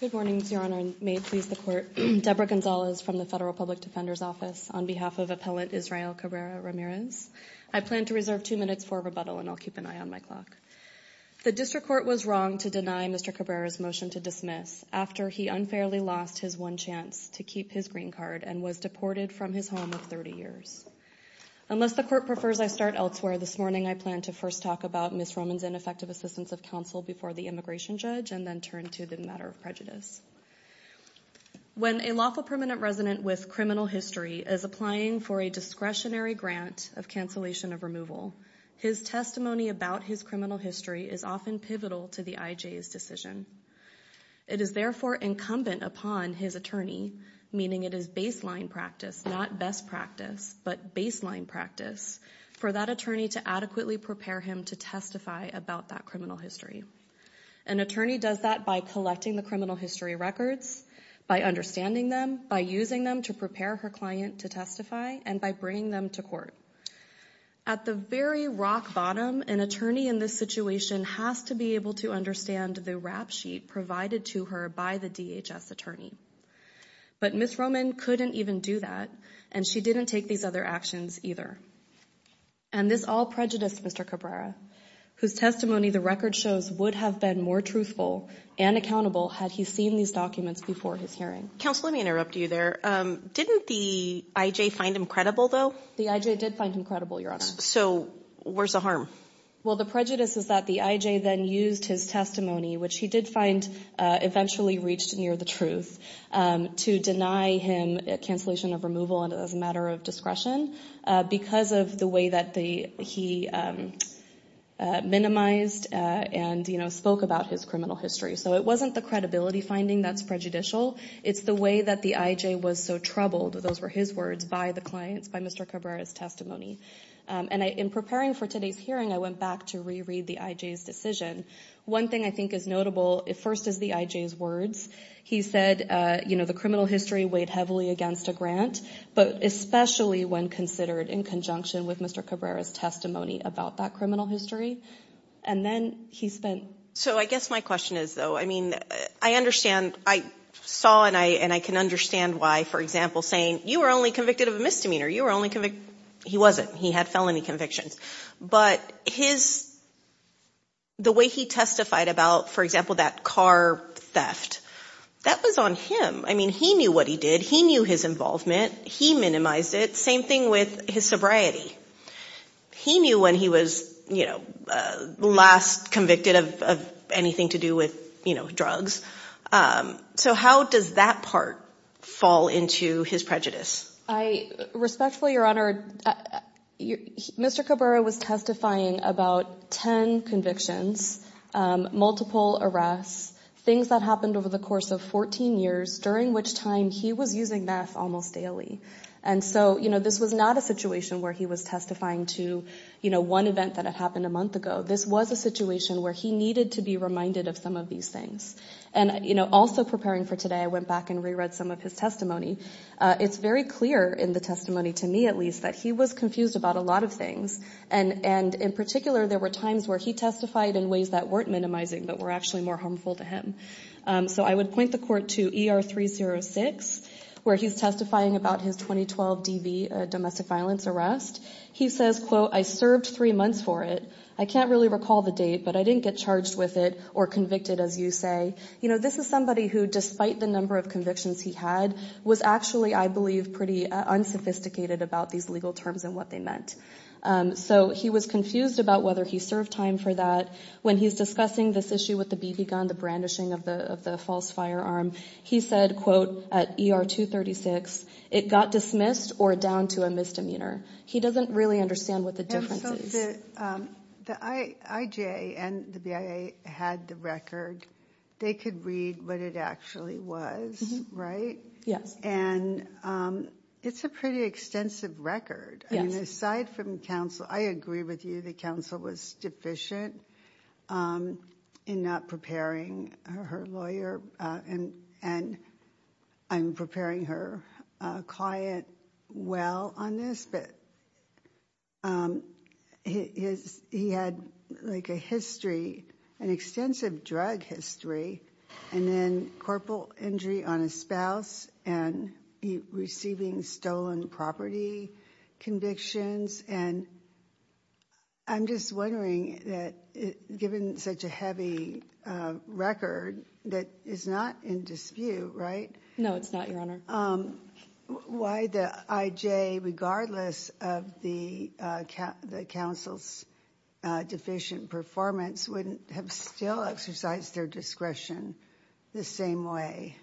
Good morning, Your Honor, and may it please the Court, Deborah Gonzalez from the Federal Public Defender's Office on behalf of Appellant Israel Cabrera-Ramirez. I plan to reserve two minutes for rebuttal and I'll keep an eye on my clock. The District Court was wrong to deny Mr. Cabrera's motion to dismiss after he unfairly lost his one chance to keep his was deported from his home of 30 years. Unless the Court prefers I start elsewhere, this morning I plan to first talk about Ms. Roman's ineffective assistance of counsel before the immigration judge and then turn to the matter of prejudice. When a lawful permanent resident with criminal history is applying for a discretionary grant of cancellation of removal, his testimony about his criminal history is often pivotal to the IJ's decision. It is therefore incumbent upon his attorney, meaning it is baseline practice, not best practice, but baseline practice for that attorney to adequately prepare him to testify about that criminal history. An attorney does that by collecting the criminal history records, by understanding them, by using them to prepare her client to testify, and by bringing them to court. At the very rock bottom, an attorney in this situation has to be able to understand the rap sheet provided to her by the DHS attorney. But Ms. Roman couldn't even do that, and she didn't take these other actions either. And this all prejudiced Mr. Cabrera, whose testimony the record shows would have been more truthful and accountable had he seen these documents before his hearing. Counsel, let me interrupt you there. Didn't the IJ find him credible though? The IJ did find him credible, Your Honor. So where's the harm? Well, the prejudice is that the IJ then used his testimony, which he did find eventually reached near the truth, to deny him a cancellation of removal as a matter of discretion because of the way that he minimized and spoke about his criminal history. So it wasn't the credibility finding that's prejudicial. It's the way that the IJ was so troubled, those were his words, by the clients, by Mr. Cabrera's testimony. And in preparing for today's hearing, I went back to reread the IJ's decision. One thing I think is notable, first is the IJ's words. He said, you know, the criminal history weighed heavily against a grant, but especially when considered in conjunction with Mr. Cabrera's testimony about that criminal history. And then he spent... So I guess my question is, though, I mean, I understand, I saw and I can understand why, for example, saying you were only convicted of a misdemeanor, you were only convicted... He wasn't. He had felony convictions, but his... The way he testified about, for example, that car theft, that was on him. I mean, he knew what he did. He knew his involvement. He minimized it. Same thing with his sobriety. He knew when he was, you know, last convicted of anything to do with, you know, drugs. So how does that part fall into his prejudice? Respectfully, Your Honor, Mr. Cabrera was testifying about 10 convictions, multiple arrests, things that happened over the course of 14 years, during which time he was using meth almost daily. And so, you know, this was not a situation where he was testifying to, you know, one event that had happened a month ago. This was a situation where he needed to be reminded of some of these things. And, you know, also preparing for today, I went back and the testimony to me, at least, that he was confused about a lot of things. And in particular, there were times where he testified in ways that weren't minimizing, but were actually more harmful to him. So I would point the court to ER 306, where he's testifying about his 2012 DV, domestic violence arrest. He says, quote, I served three months for it. I can't really recall the date, but I didn't get charged with it or convicted, as you say. You know, this is somebody who, despite the number of convictions he had, was actually, I believe, pretty unsophisticated about these legal terms and what they meant. So he was confused about whether he served time for that. When he's discussing this issue with the BB gun, the brandishing of the false firearm, he said, quote, at ER 236, it got dismissed or down to a misdemeanor. He doesn't really understand what the difference is. And so the IJA and the BIA had the record. They could read what it actually was, right? And it's a pretty extensive record. Aside from counsel, I agree with you that counsel was deficient in not preparing her lawyer, and I'm preparing her client well on this, but his, he had like a history, an extensive drug history, and then corporal injury on his spouse, and receiving stolen property convictions. And I'm just wondering that given such a heavy record that is not in dispute, right? No, it's not, Your Honor. Why the IJA, regardless of the counsel's deficient performance, wouldn't have still exercised their discretion the same way?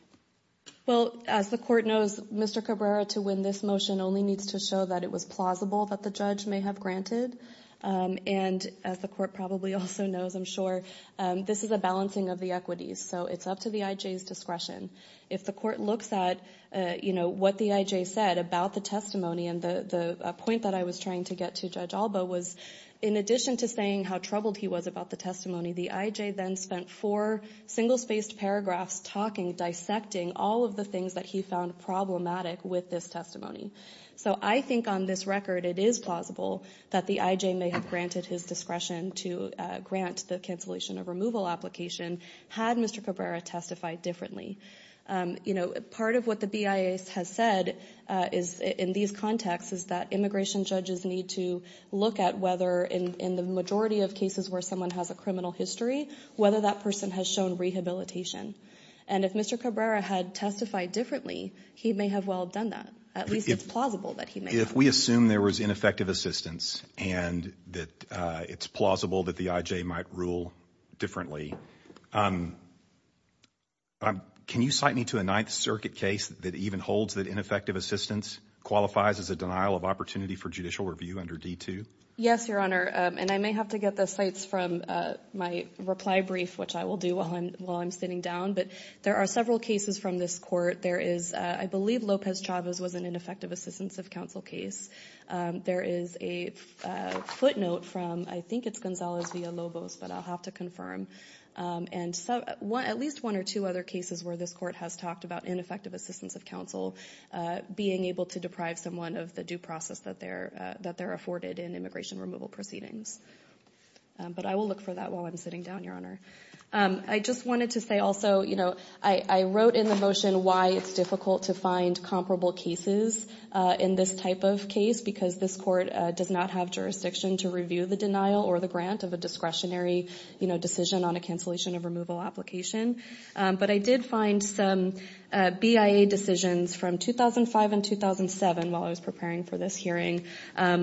Well, as the court knows, Mr. Cabrera, to win this motion only needs to show that it was plausible that the judge may have granted. And as the court probably also knows, I'm sure, this is a balancing of the equities. So it's up to the IJA's discretion. If the court looks at what the IJA said about the testimony, and the point that I was trying to get to Judge Alba was, in addition to saying how troubled he was about the testimony, the IJA then spent four single-spaced paragraphs talking, dissecting all of the things that he found problematic with this testimony. So I think on this record, it is plausible that the IJA may have granted his discretion to grant the cancellation of removal application had Mr. Cabrera testified differently. You know, part of what the BIA has said is, in these contexts, is that immigration judges need to look at whether, in the majority of cases where someone has a criminal history, whether that person has shown rehabilitation. And if Mr. Cabrera had testified differently, he may have well done that. At least it's plausible that he may have. If we assume there was ineffective assistance, and that it's plausible that the IJA might rule differently, can you cite me to a Ninth Circuit case that even holds that ineffective assistance qualifies as a denial of opportunity for judicial review under D-2? Yes, Your Honor. And I may have to get the cites from my reply brief, which I will do while I'm sitting down. But there are several cases from this court. There is, I believe, Lopez-Chavez was an ineffective assistance of counsel case. There is a footnote from, I think it's Gonzalez v. Lobos, but I'll have to confirm. And at least one or two other cases where this court has talked about ineffective assistance of counsel being able to deprive someone of the due process that they're afforded in immigration removal proceedings. But I will look for that while I'm sitting down, Your Honor. I just wanted to say also, you know, I wrote in the motion why it's difficult to find comparable cases in this type of case, because this court does not have jurisdiction to review the denial or the grant of a discretionary, you know, decision on a cancellation of removal application. But I did find some BIA decisions from 2005 and 2007 while I was preparing for this hearing,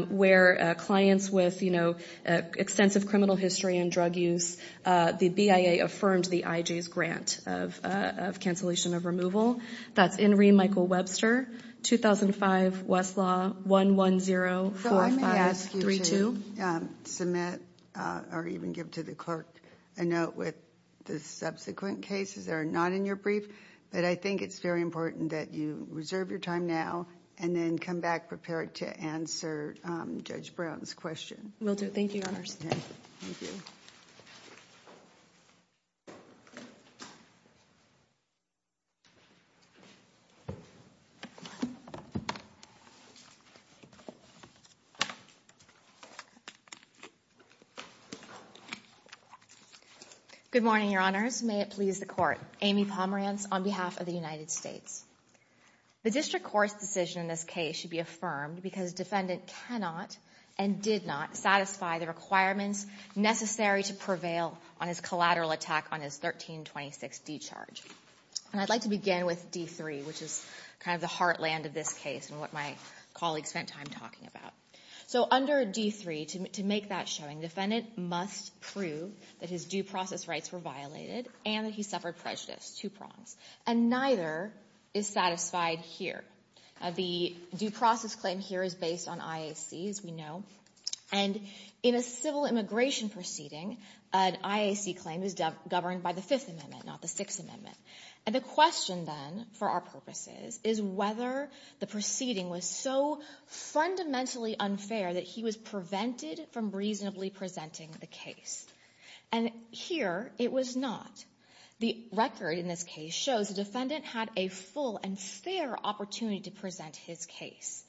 where clients with, you know, extensive criminal history and drug use, the BIA affirmed the IJ's grant of cancellation of removal. That's Inree Michael-Webster, 2005, Westlaw, 110-4532. I may ask you to submit or even give to the clerk a note with the subsequent cases that are not in your brief, but I think it's very important that you reserve your time now and then come back prepared to answer Judge Brown's question. Will do. Thank you, Your Honor. Good morning, Your Honors. May it please the court. Amy Pomerantz on behalf of the United States. The district court's decision in this case should be affirmed because defendant cannot and did not satisfy the requirements necessary to prevail on his collateral attack on his 1326 discharge. And I'd like to begin with D3, which is kind of the heartland of this case and what my So under D3, to make that showing, defendant must prove that his due process rights were violated and that he suffered prejudice, two prongs. And neither is satisfied here. The due process claim here is based on IAC, as we know. And in a civil immigration proceeding, an IAC claim is governed by the Fifth Amendment, not the Sixth Amendment. And the question then, for our purposes, is whether the proceeding was so fundamentally unfair that he was prevented from reasonably presenting the case. And here, it was not. The record in this case shows the defendant had a full and fair opportunity to present his case.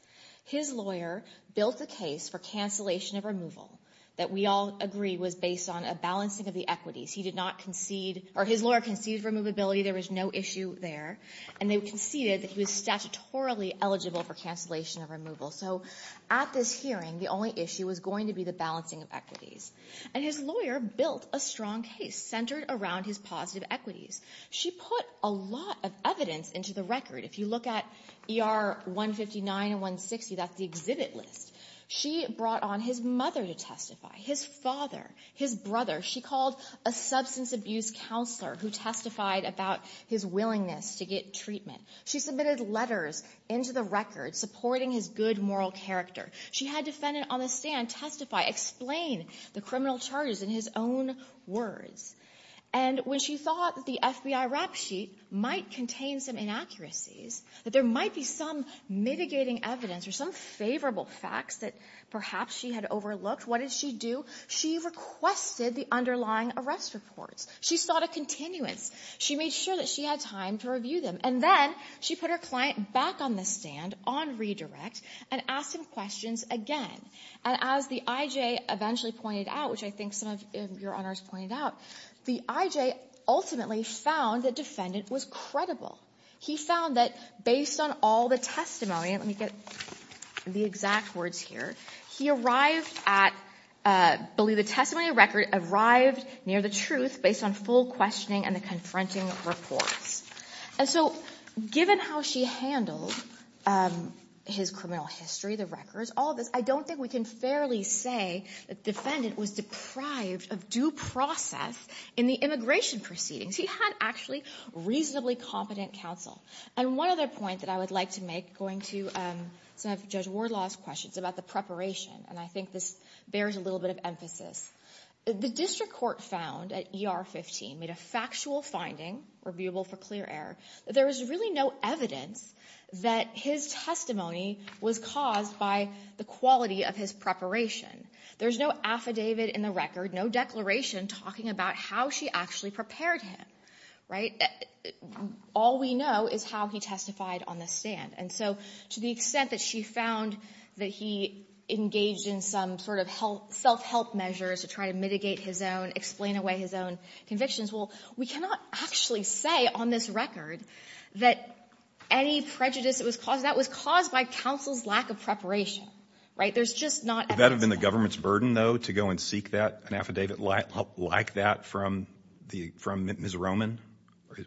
His lawyer built the case for cancellation of removal that we all agree was based on a balancing of the equities. He did not concede, or his lawyer conceded removability. There was no issue there. And they conceded that he was statutorily eligible for cancellation of removal. So at this hearing, the only issue was going to be the balancing of equities. And his lawyer built a strong case centered around his positive equities. She put a lot of evidence into the record. If you look at ER 159 and 160, that's the exhibit list. She brought on his mother to testify, his father, his brother. She called a substance abuse counselor who testified about his willingness to get treatment. She submitted letters into the record supporting his good moral character. She had defendants on the stand testify, explain the criminal charges in his own words. And when she thought the FBI rap sheet might contain some inaccuracies, that there might be some mitigating evidence or some favorable facts that perhaps she had overlooked, what did she do? She requested the underlying arrest reports. She sought a continuance. She made sure that she had time to review them. And then she put her client back on the stand on redirect and asked him questions again. And as the I.J. eventually pointed out, which I think some of your Honors pointed out, the I.J. ultimately found the defendant was credible. He found that based on all the testimony, let me get the exact words here, he arrived at, believe the testimony record, arrived near the truth based on full questioning and the confronting reports. And so given how she handled his criminal history, the records, all of this, I don't think we can fairly say the defendant was deprived of due process in the immigration proceedings. He had actually reasonably competent counsel. And one other point that I would like to make, going to some of Judge Wardlaw's questions about the preparation, and I think this bears a little bit of emphasis. The district court found at ER 15 made a factual finding, reviewable for clear error, that there was really no evidence that his testimony was caused by the quality of his preparation. There's no affidavit in the record, no declaration, talking about how she actually prepared him, right? All we know is how he testified on the stand. And so to the extent that she found that he engaged in some sort of self-help measures to try to mitigate his own, explain away his own convictions, well, we cannot actually say on this record that any prejudice that was caused, that was caused by counsel's lack of preparation, right? There's just not evidence. Would that have been the government's burden, though, to go and seek that, an affidavit like that from Ms. Roman?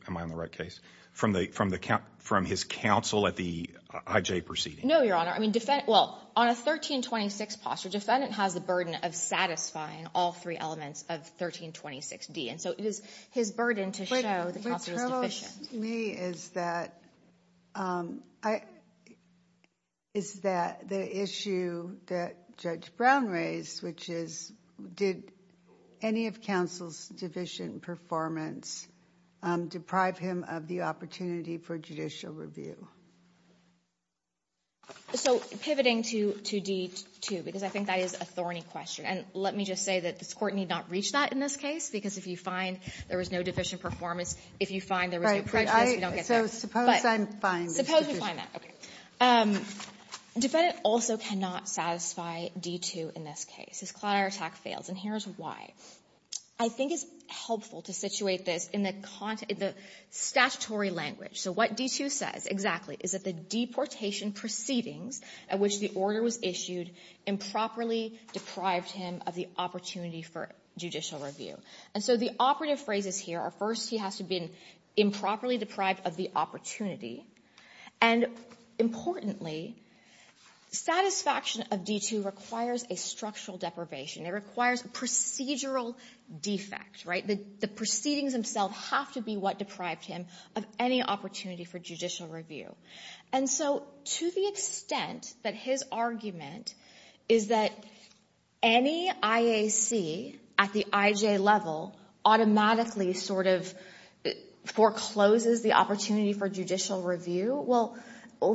Am I on the right case? From his counsel at the IJ proceeding? No, Your Honor. I mean, well, on a 1326 posture, defendant has the burden of satisfying all three elements of 1326D. And so it is his burden to show the counsel is deficient. Me is that, is that the issue that Judge Brown raised, which is did any of counsel's deficient performance deprive him of the opportunity for judicial review? So pivoting to 2D2, because I think that is a thorny question. And let me just say that this court need not reach that in this case, because if you find there was no deficient performance, if you find there was no prejudice, you don't get that. Right. So suppose I'm fine. Suppose we find that. Okay. Defendant also cannot satisfy D2 in this case. His clout or attack fails. And here's why. I think it's helpful to situate this in the statutory language. So what D2 says exactly is that the deportation proceedings at which the order was issued improperly deprived him of the opportunity for judicial review. And so the operative phrases here are first he has to be improperly deprived of the opportunity. And importantly, satisfaction of D2 requires a structural deprivation. It requires a procedural defect, right? The proceedings themselves have to be what deprived him of any opportunity for judicial review. And so to the extent that his argument is that any IAC at the IJ level automatically sort of forecloses the opportunity for judicial review, well,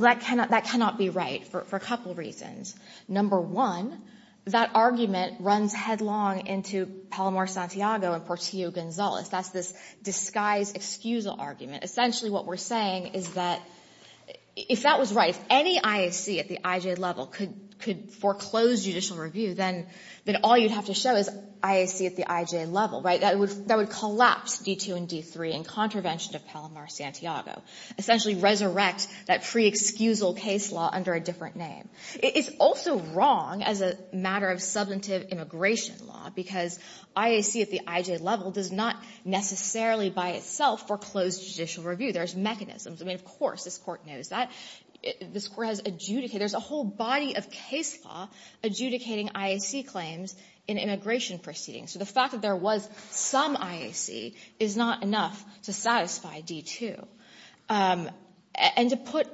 that cannot be right for a couple reasons. Number one, that argument runs headlong into Palomar-Santiago and Portillo-Gonzalez. That's this disguised excusal argument. Essentially what we're saying is that if that was right, if any IAC at the IJ level could foreclose judicial review, then all you'd have to show is IAC at the IJ level, right? That would collapse D2 and D3 in contravention of Palomar-Santiago, essentially resurrect that pre-excusal case law under a different name. It's also wrong as a matter of substantive immigration law because IAC at the IJ level does not necessarily by itself foreclose judicial review. There's mechanisms. I mean, of course, this Court knows that. This Court has adjudicated. There's a whole body of case law adjudicating IAC claims in immigration proceedings. So the fact that there was some IAC is not enough to satisfy D2. And to put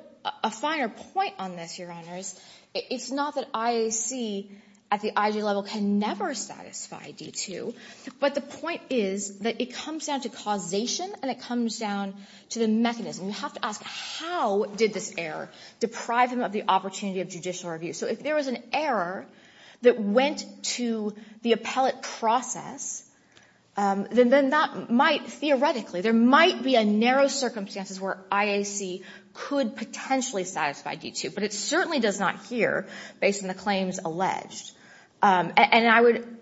a finer point on this, Your Honors, it's not that IAC at the IJ level can never satisfy D2, but the point is that it comes down to causation and it comes down to the mechanism. You have to ask how did this error deprive him of the opportunity of judicial review? So if there was an error that went to the appellate process, then that might theoretically, there might be a narrow circumstances where IAC could potentially satisfy D2, but it certainly does not here based on the claims alleged. And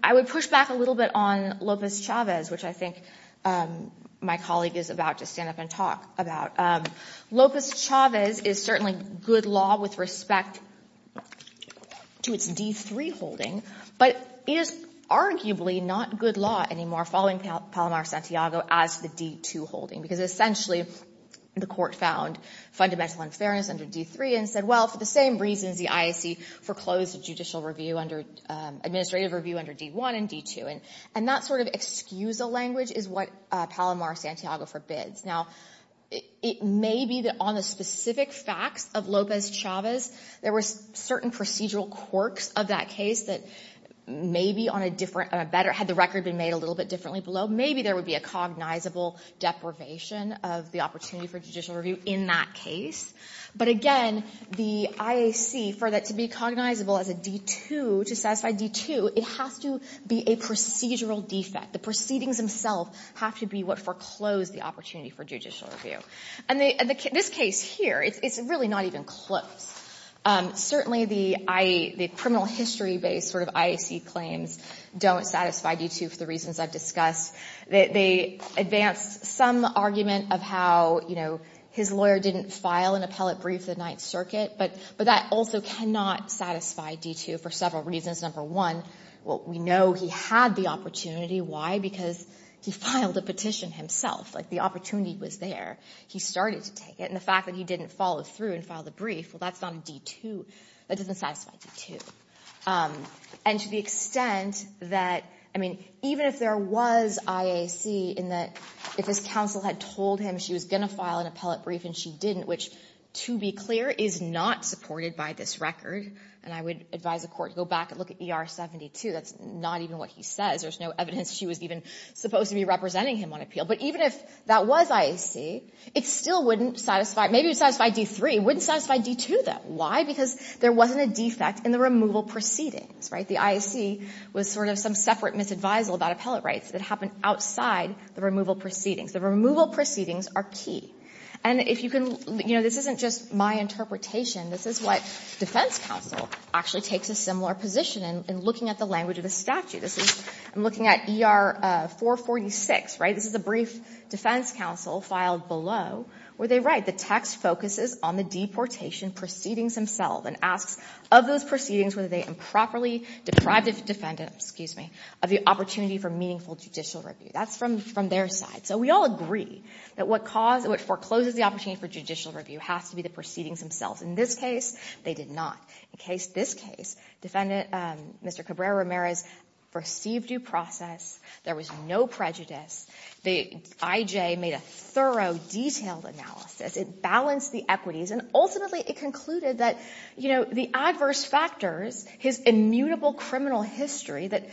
I would push back a little bit on Lopez-Chavez, which I think my colleague is about to stand up and talk about. Lopez-Chavez is certainly good law with respect to its D3 holding, but it is arguably not good law anymore following Palomar-Santiago as the D2 holding, because essentially the Court found fundamental unfairness under D3 and said, well, for the same reasons the IAC foreclosed the judicial review under, administrative review under D1 and D2. And that sort of excusa language is what Palomar-Santiago forbids. Now, it may be that on the specific facts of Lopez-Chavez, there were certain procedural quirks of that case that maybe on a different, had the record been made a little bit differently below, maybe there would be a cognizable deprivation of the opportunity for judicial review in that case. But again, the IAC, for that to be cognizable as a D2, to satisfy D2, it has to be a procedural defect. The proceedings themselves have to be what foreclosed the opportunity for judicial review. And this case here, it's really not even close. Certainly, the criminal history-based sort of IAC claims don't satisfy D2 for the reasons I've discussed. They advance some argument of how, you know, his lawyer didn't file an appellate brief the Ninth Circuit. But that also cannot satisfy D2 for several reasons. Number one, well, we know he had the opportunity. Why? Because he filed a petition himself. Like, the opportunity was there. He started to take it. And the fact that he didn't follow through and file the brief, well, that's not a D2. That doesn't satisfy D2. And to the extent that, I mean, even if there was IAC in that if his counsel had told him she was going to file an appellate brief and she didn't, which to be clear is not supported by this record, and I would advise the Court to go back and look at ER-72, that's not even what he says. There's no evidence she was even supposed to be representing him on appeal. But even if that was IAC, it still wouldn't satisfy — maybe it would satisfy D3. It wouldn't satisfy D2, though. Why? Because there wasn't a defect in the removal proceedings, right? The IAC was sort of some separate misadvisal about appellate rights that happened outside the removal proceedings. The removal proceedings are key. And if you can — you know, this isn't just my interpretation. This is what defense counsel actually takes a similar position in, in looking at the language of the statute. This is — I'm looking at ER-446, right? This is a brief defense counsel filed below where they write, the text focuses on the deportation proceedings themselves and asks of those proceedings whether they improperly deprived the defendant — excuse me — of the opportunity for meaningful judicial review. That's from their side. So we all agree that what caused — what forecloses the opportunity for judicial review has to be the proceedings themselves. In this case, they did not. In this case, defendant, Mr. Cabrera-Ramirez, perceived due process. There was no prejudice. The IJ made a thorough, detailed analysis. It balanced the equities. And ultimately, it concluded that, you know, the adverse factors, his immutable criminal history that,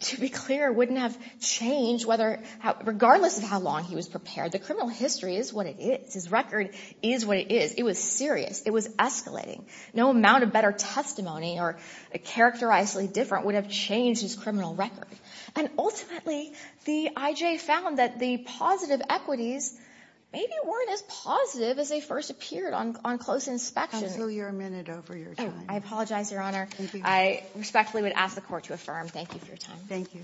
to be clear, wouldn't have changed whether — regardless of how long he was prepared, the criminal history is what it is. His record is what it is. It was serious. It was escalating. No amount of better testimony or characterizably different would have changed his criminal record. And ultimately, the IJ found that the positive equities maybe weren't as positive as they first appeared on close inspection. Absolutely. You're a minute over your time. I apologize, Your Honor. I respectfully would ask the Court to affirm. Thank you for your time. Thank you.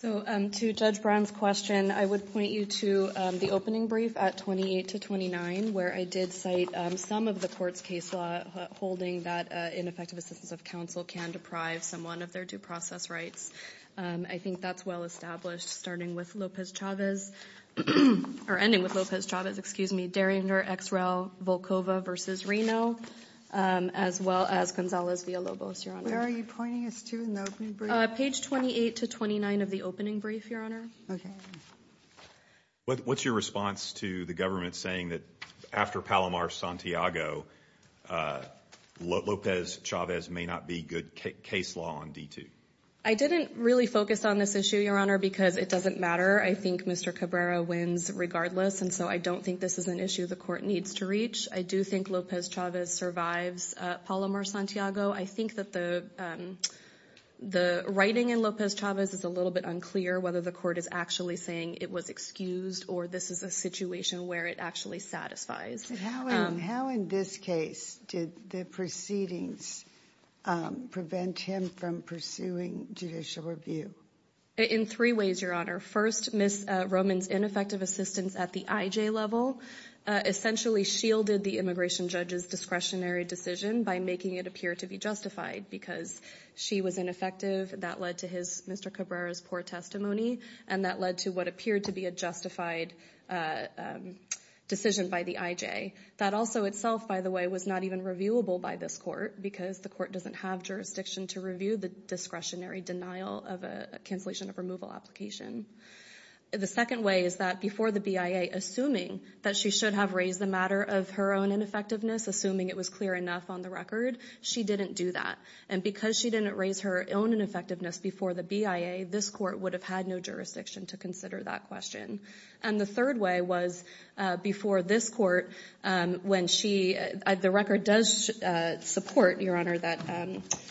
So, to Judge Brown's question, I would point you to the opening brief at 28 to 29, where I did cite some of the Court's case law holding that ineffective assistance of counsel can deprive someone of their due process rights. I think that's well established, starting with Lopez-Chavez — or Reno — as well as Gonzalez-Villalobos, Your Honor. Where are you pointing us to in the opening brief? Page 28 to 29 of the opening brief, Your Honor. Okay. What's your response to the government saying that after Palomar-Santiago, Lopez-Chavez may not be good case law on D2? I didn't really focus on this issue, Your Honor, because it doesn't matter. I think Mr. Cabrera wins regardless, and so I don't think this is an issue the Court needs to reach. I do think Lopez-Chavez survives Palomar-Santiago. I think that the writing in Lopez-Chavez is a little bit unclear whether the Court is actually saying it was excused or this is a situation where it actually satisfies. How, in this case, did the proceedings prevent him from pursuing judicial review? In three ways, Your Honor. First, Ms. Roman's ineffective assistance at the IJ level essentially shielded the immigration judge's discretionary decision by making it appear to be justified because she was ineffective. That led to Mr. Cabrera's poor testimony, and that led to what appeared to be a justified decision by the IJ. That also itself, by the way, was not even reviewable by this Court because the Court doesn't have jurisdiction to review the discretionary denial of a cancellation of removal application. The second way is that before the BIA, assuming that she should have raised the matter of her own ineffectiveness, assuming it was clear enough on the record, she didn't do that. And because she didn't raise her own ineffectiveness before the BIA, this Court would have had no jurisdiction to consider that question. And the third way was before this Court, when the record does support, Your Honor, that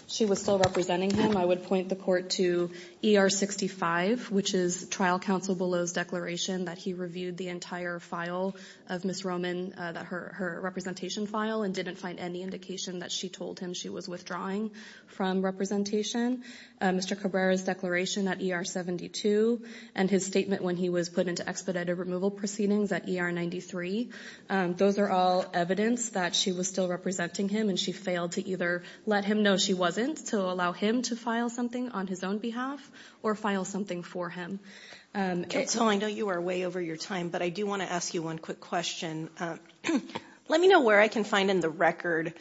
she was still representing him, I would point the Court to ER 65, which is trial counsel Below's declaration that he reviewed the entire file of Ms. Roman, her representation file, and didn't find any indication that she told him she was withdrawing from representation. Mr. Cabrera's declaration at ER 72 and his statement when he was put into expedited removal proceedings at ER 93, those are all evidence that she was still representing him and she failed to either let him know she wasn't to allow him to file something on his own behalf or file something for him. Counsel, I know you are way over your time, but I do want to ask you one quick question. Let me know where I can find in the record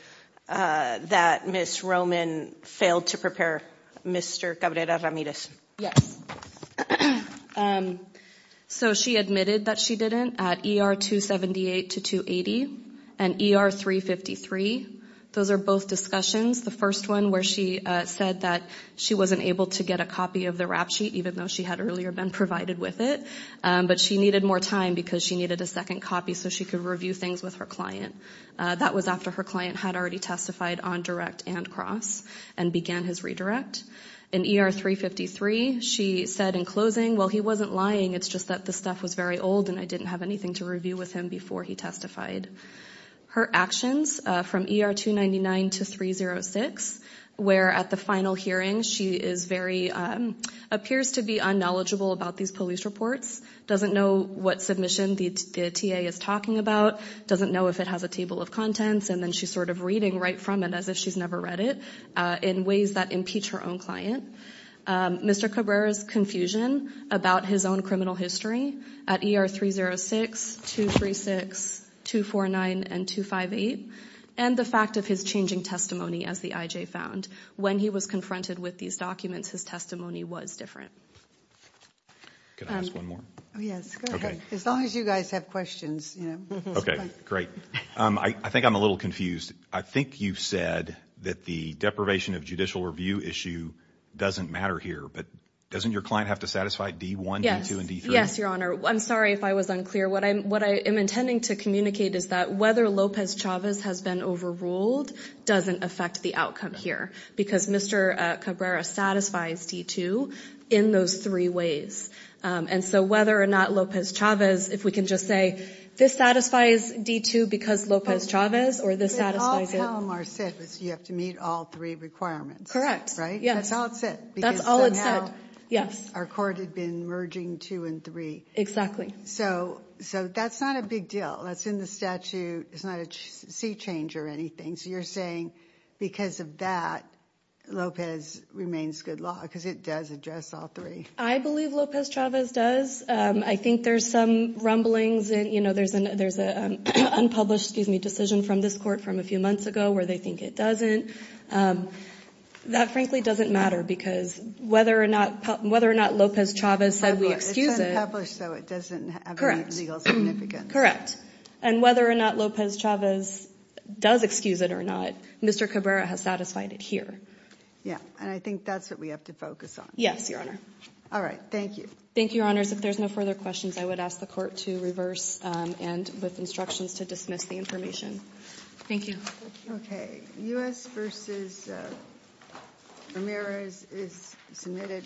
that Ms. Roman failed to prepare Mr. Cabrera Ramirez. Yes. So she admitted that she didn't at ER 278 to 280 and ER 353, those are both discussions. The first one where she said that she wasn't able to get a copy of the rap sheet, even though she had earlier been provided with it, but she needed more time because she needed a second copy so she could review things with her client. That was after her client had already testified on direct and cross and began his redirect. In ER 353, she said in closing, well, he wasn't lying, it's just that the stuff was very old and I didn't have anything to review with him before he testified. Her actions from ER 299 to 306, where at the final hearing she is very, appears to be unknowledgeable about these police reports, doesn't know what submission the TA is talking about, doesn't know if it has a table of contents, and then she's sort of reading right from it as if she's never read it in ways that impeach her own client. Mr. Cabrera's confusion about his own criminal history at ER 306, 236, 249, and 258, and the fact of his changing testimony, as the IJ found, when he was confronted with these documents, his testimony was different. Can I ask one more? Yes, go ahead. As long as you guys have questions. Okay, great. I think I'm a little confused. I think you've said that the deprivation of judicial review issue doesn't matter here, but doesn't your client have to satisfy D1, D2, and D3? Yes, your honor. I'm sorry if I was unclear. What I'm, what I am intending to communicate is that whether Lopez Chavez has been overruled doesn't affect the outcome here, because Mr. Cabrera satisfies D2 in those three ways, and so whether or not Lopez Chavez, if we can just say, this satisfies D2 because Lopez Chavez, or this satisfies it. All Palomar said was you have to meet all three requirements. Correct. Right? Yes. That's all it said. That's all it said. Yes. Our court had been merging two and three. Exactly. So, so that's not a big deal. That's in the statute. It's not a sea change or anything. So you're saying because of that, Lopez remains good law, because it does address all three. I believe Lopez Chavez does. I think there's some rumblings, and you know, there's an, there's an unpublished, excuse me, decision from this court from a few months ago where they think it doesn't. That frankly doesn't matter, because whether or not, whether or not Lopez Chavez said we excuse it. It's unpublished, so it doesn't have any legal significance. Correct. And whether or not Lopez Chavez does excuse it or not, Mr. Cabrera has satisfied it here. Yeah, and I think that's what we have to focus on. Yes, your honor. All right. Thank you. Thank you, your honors. If there's no to dismiss the information. Thank you. Okay. U.S. versus Ramirez is submitted.